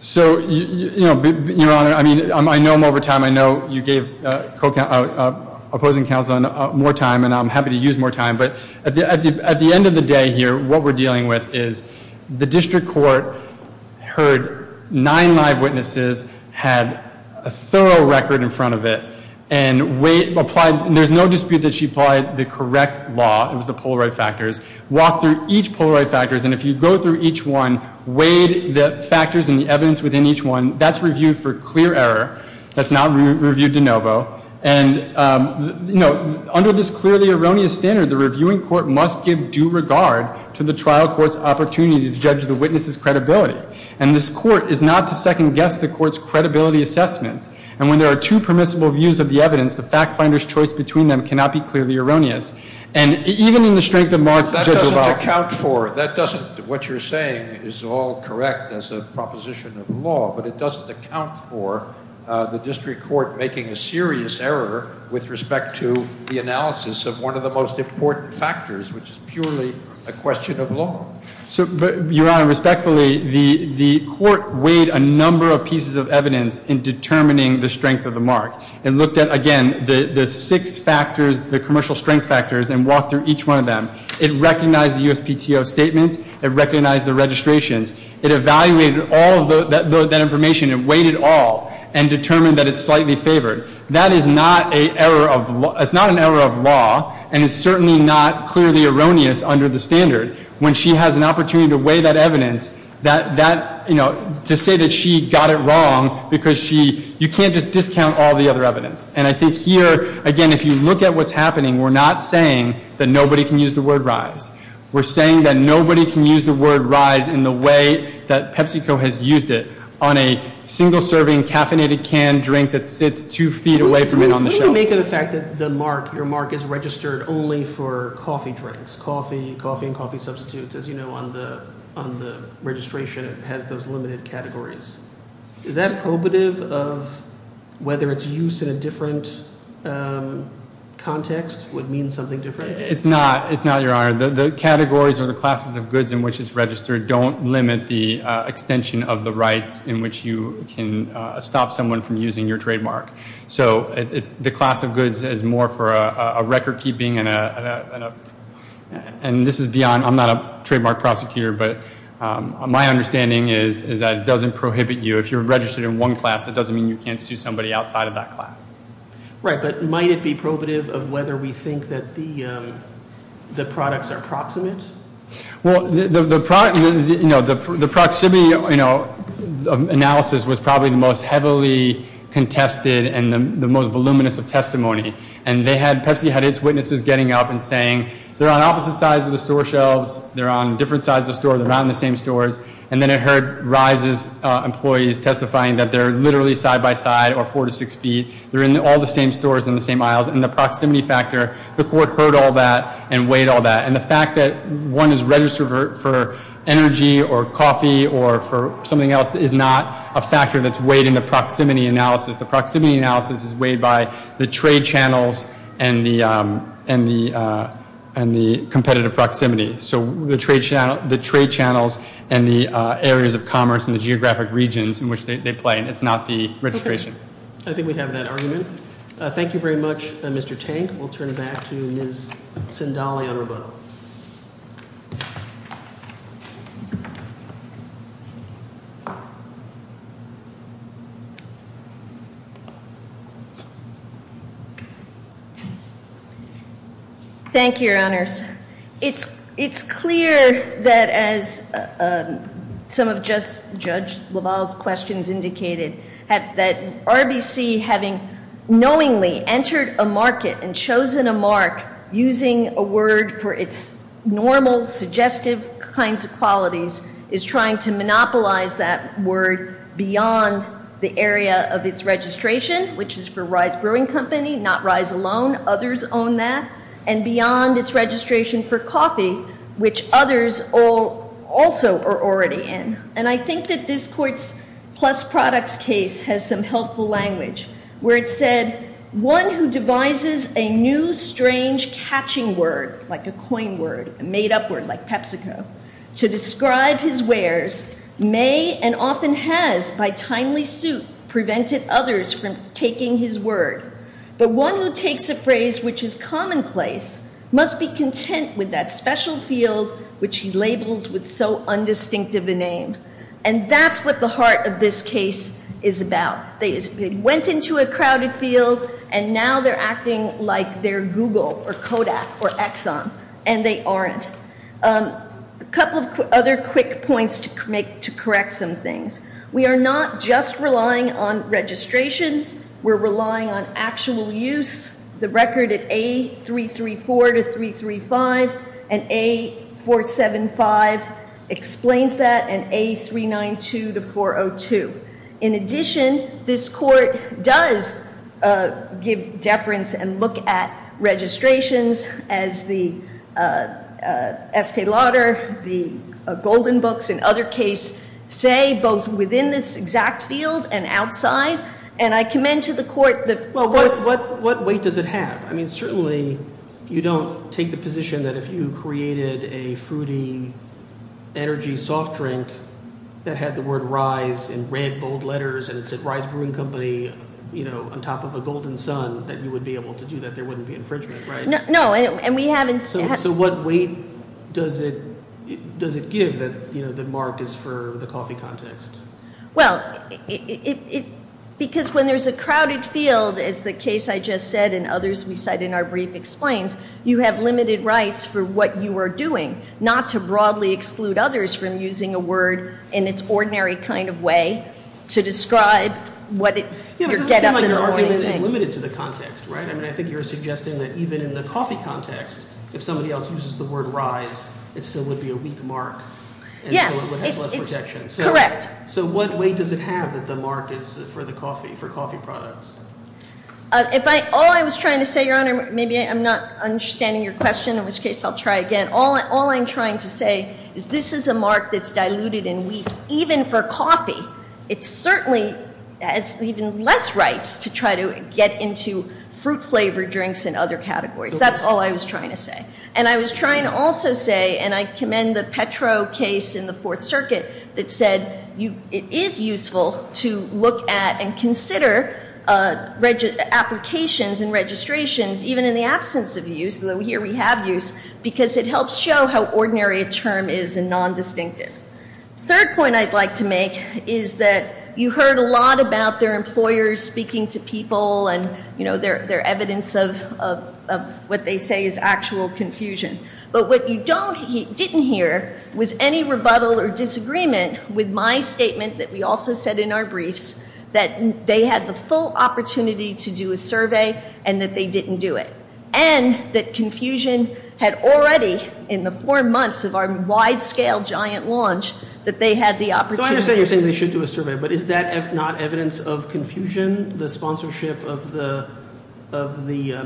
So, you know, Your Honor, I mean, I know I'm over time. I know you gave opposing counsel more time, and I'm happy to use more time. But at the end of the day here, what we're dealing with is the district court heard nine live witnesses, had a thorough record in front of it, and there's no dispute that she applied the correct law. It was the Polaroid factors. Walked through each Polaroid factors, and if you go through each one, weighed the factors and the evidence within each one, that's reviewed for clear error. That's not reviewed de novo. And, you know, under this clearly erroneous standard, the reviewing court must give due regard to the trial court's opportunity to judge the witness's credibility. And this court is not to second-guess the court's credibility assessments. And when there are two permissible views of the evidence, the fact finder's choice between them cannot be clearly erroneous. And even in the strength of mark, Judge LaValle. That doesn't account for it. That doesn't. What you're saying is all correct as a proposition of law, but it doesn't account for the district court making a serious error with respect to the analysis of one of the most important factors, which is purely a question of law. Your Honor, respectfully, the court weighed a number of pieces of evidence in determining the strength of the mark and looked at, again, the six factors, the commercial strength factors, and walked through each one of them. It recognized the USPTO statements. It recognized the registrations. It evaluated all of that information. It weighed it all and determined that it's slightly favored. That is not an error of law, and it's certainly not clearly erroneous under the standard. When she has an opportunity to weigh that evidence, that, you know, to say that she got it wrong because you can't just discount all the other evidence. And I think here, again, if you look at what's happening, we're not saying that nobody can use the word rise. We're saying that nobody can use the word rise in the way that PepsiCo has used it on a single-serving caffeinated canned drink that sits two feet away from it on the shelf. What do you make of the fact that the mark, your mark is registered only for coffee drinks, coffee and coffee substitutes? As you know, on the registration, it has those limited categories. Is that probative of whether its use in a different context would mean something different? It's not, Your Honor. The categories or the classes of goods in which it's registered don't limit the extension of the rights in which you can stop someone from using your trademark. So the class of goods is more for a record-keeping and this is beyond, I'm not a trademark prosecutor, but my understanding is that it doesn't prohibit you. If you're registered in one class, it doesn't mean you can't sue somebody outside of that class. Right, but might it be probative of whether we think that the products are proximate? Well, the proximity analysis was probably the most heavily contested and the most voluminous of testimony. And Pepsi had its witnesses getting up and saying, they're on opposite sides of the store shelves, they're on different sides of the store, they're not in the same stores. And then I heard RISE's employees testifying that they're literally side-by-side or four to six feet, they're in all the same stores in the same aisles. And the proximity factor, the court heard all that and weighed all that. And the fact that one is registered for energy or coffee or for something else is not a factor that's weighed in the proximity analysis. The proximity analysis is weighed by the trade channels and the competitive proximity. So the trade channels and the areas of commerce and the geographic regions in which they play. It's not the registration. I think we have that argument. Thank you very much, Mr. Tank. And we'll turn it back to Ms. Sindali on rebuttal. It's clear that as some of Judge LaValle's questions indicated, that RBC having knowingly entered a market and chosen a mark using a word for its normal, suggestive kinds of qualities is trying to monopolize that word beyond the area of its registration, which is for RISE Brewing Company, not RISE alone. Others own that. And beyond its registration for coffee, which others also are already in. And I think that this Court's Plus Products case has some helpful language where it said, one who devises a new, strange, catching word, like a coin word, a made-up word like PepsiCo, to describe his wares may and often has, by timely suit, prevented others from taking his word. But one who takes a phrase which is commonplace must be content with that special field, which he labels with so undistinctive a name. And that's what the heart of this case is about. They went into a crowded field, and now they're acting like they're Google or Kodak or Exxon. And they aren't. A couple of other quick points to correct some things. We are not just relying on registrations. We're relying on actual use. The record at A334-335 and A475 explains that, and A392-402. In addition, this Court does give deference and look at registrations, as the Estée Lauder, the Golden Books, and other cases say, both within this exact field and outside. And I commend to the Court the- Well, what weight does it have? I mean, certainly you don't take the position that if you created a fruity, energy soft drink that had the word RISE in red, bold letters, and it said RISE Brewing Company on top of a golden sun, that you would be able to do that. There wouldn't be infringement, right? No, and we haven't- So what weight does it give that Mark is for the coffee context? Well, because when there's a crowded field, as the case I just said and others we cite in our brief explains, you have limited rights for what you are doing, not to broadly exclude others from using a word in its ordinary kind of way to describe what it- Yeah, but it doesn't seem like your argument is limited to the context, right? I mean, I think you're suggesting that even in the coffee context, if somebody else uses the word RISE, it still would be a weak mark. Yes, it's correct. So what weight does it have that the mark is for the coffee, for coffee products? All I was trying to say, Your Honor, maybe I'm not understanding your question, in which case I'll try again. All I'm trying to say is this is a mark that's diluted and weak, even for coffee. It certainly has even less rights to try to get into fruit-flavored drinks and other categories. That's all I was trying to say. And I was trying to also say, and I commend the Petro case in the Fourth Circuit that said it is useful to look at and consider applications and registrations, even in the absence of use, though here we have use, because it helps show how ordinary a term is and non-distinctive. The third point I'd like to make is that you heard a lot about their employers speaking to people and their evidence of what they say is actual confusion. But what you didn't hear was any rebuttal or disagreement with my statement that we also said in our briefs that they had the full opportunity to do a survey and that they didn't do it, and that confusion had already, in the four months of our wide-scale giant launch, that they had the opportunity. So I understand you're saying they should do a survey, but is that not evidence of confusion, the sponsorship of the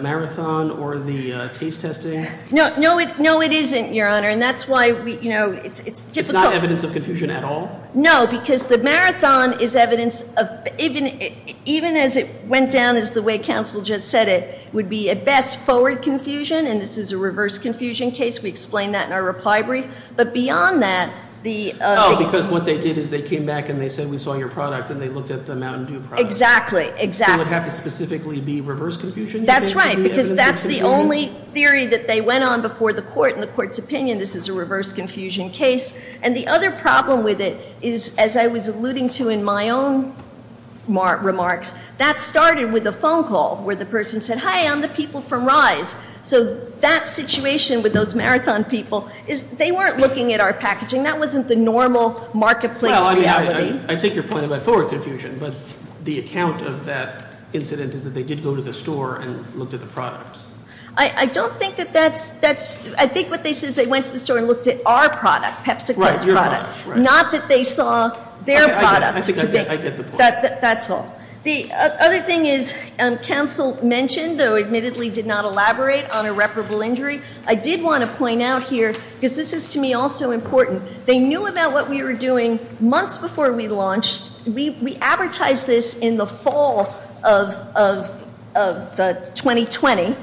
marathon or the taste testing? No, it isn't, Your Honor, and that's why it's difficult. It's not evidence of confusion at all? No, because the marathon is evidence of, even as it went down as the way counsel just said it, would be at best forward confusion, and this is a reverse confusion case. We explained that in our reply brief. But beyond that, the- Oh, because what they did is they came back and they said, we saw your product, and they looked at the Mountain Dew product. Exactly, exactly. So it would have to specifically be reverse confusion, you think? That's right, because that's the only theory that they went on before the court. In the court's opinion, this is a reverse confusion case. And the other problem with it is, as I was alluding to in my own remarks, that started with a phone call where the person said, hi, I'm the people from RISE. So that situation with those marathon people, they weren't looking at our packaging. That wasn't the normal marketplace reality. I take your point about forward confusion, but the account of that incident is that they did go to the store and looked at the product. I don't think that that's- I think what they said is they went to the store and looked at our product, PepsiCo's product. Right, your product. Not that they saw their product. I think I get the point. That's all. The other thing is, counsel mentioned, though admittedly did not elaborate, on irreparable injury. I did want to point out here, because this is to me also important, they knew about what we were doing months before we launched. We advertised this in the fall of 2020.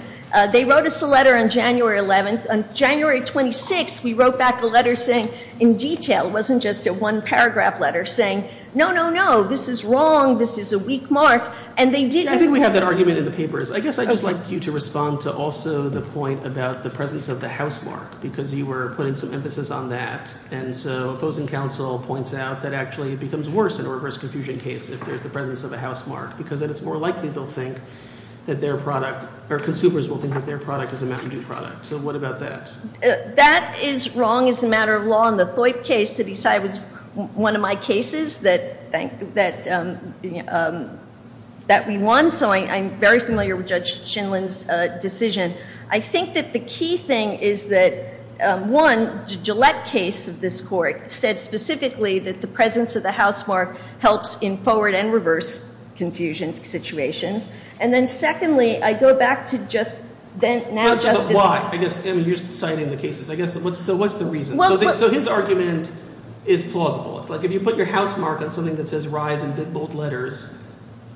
They wrote us a letter on January 11th. On January 26th, we wrote back a letter saying, in detail, it wasn't just a one-paragraph letter saying, no, no, no, this is wrong, this is a weak mark. And they did- I think we have that argument in the papers. I guess I'd just like you to respond to also the point about the presence of the housemark, because you were putting some emphasis on that. And so opposing counsel points out that actually it becomes worse in a reverse confusion case if there's the presence of a housemark, because then it's more likely they'll think that their product- or consumers will think that their product is a Mountain Dew product. So what about that? That is wrong as a matter of law. And the FOIP case to decide was one of my cases that we won. So I'm very familiar with Judge Shinlin's decision. I think that the key thing is that, one, the Gillette case of this court said specifically that the presence of the housemark helps in forward and reverse confusion situations. And then secondly, I go back to just now Justice- But why? I guess you're citing the cases. So what's the reason? So his argument is plausible. It's like if you put your housemark on something that says rise in big, bold letters,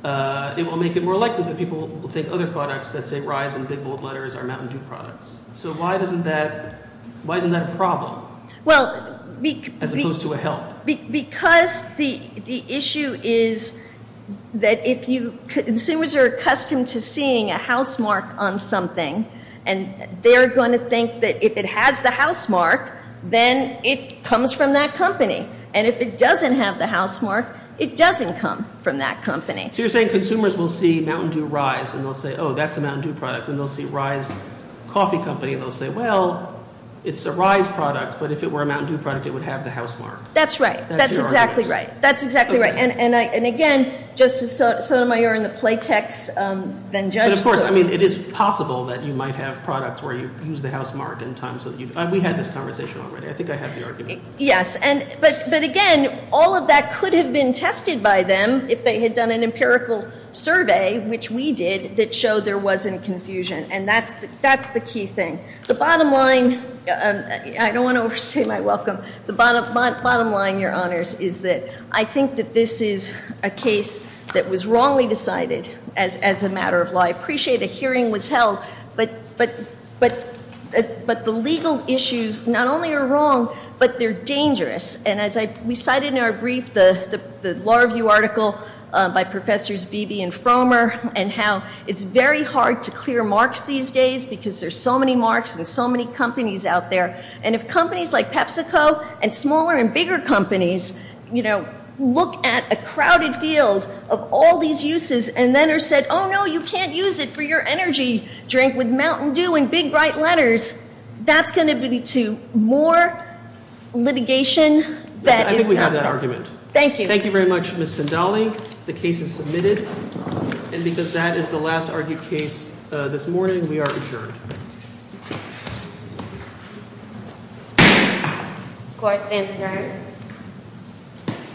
it will make it more likely that people will think other products that say rise in big, bold letters are Mountain Dew products. So why isn't that a problem as opposed to a help? Well, because the issue is that if you- consumers are accustomed to seeing a housemark on something, and they're going to think that if it has the housemark, then it comes from that company. And if it doesn't have the housemark, it doesn't come from that company. So you're saying consumers will see Mountain Dew Rise, and they'll say, oh, that's a Mountain Dew product. Then they'll see Rise Coffee Company, and they'll say, well, it's a Rise product. But if it were a Mountain Dew product, it would have the housemark. That's right. That's your argument. That's exactly right. That's exactly right. And again, Justice Sotomayor, in the play text, then Judge- But of course, I mean, it is possible that you might have products where you use the housemark in times that you- We had this conversation already. I think I have the argument. Yes. But again, all of that could have been tested by them if they had done an empirical survey, which we did, that showed there wasn't confusion. And that's the key thing. The bottom line- I don't want to overstay my welcome. The bottom line, Your Honors, is that I think that this is a case that was wrongly decided as a matter of law. I appreciate a hearing was held. But the legal issues, not only are wrong, but they're dangerous. And as we cited in our brief, the Law Review article by Professors Beebe and Fromer, and how it's very hard to clear marks these days because there's so many marks and so many companies out there. And if companies like PepsiCo and smaller and bigger companies, you know, look at a crowded field of all these uses and then are said, oh, no, you can't use it for your energy drink with Mountain Dew and Big Bright Letters, that's going to lead to more litigation that is- I think we have that argument. Thank you. Thank you very much, Ms. Sindali. The case is submitted. And because that is the last argued case this morning, we are adjourned. Do I stand adjourned?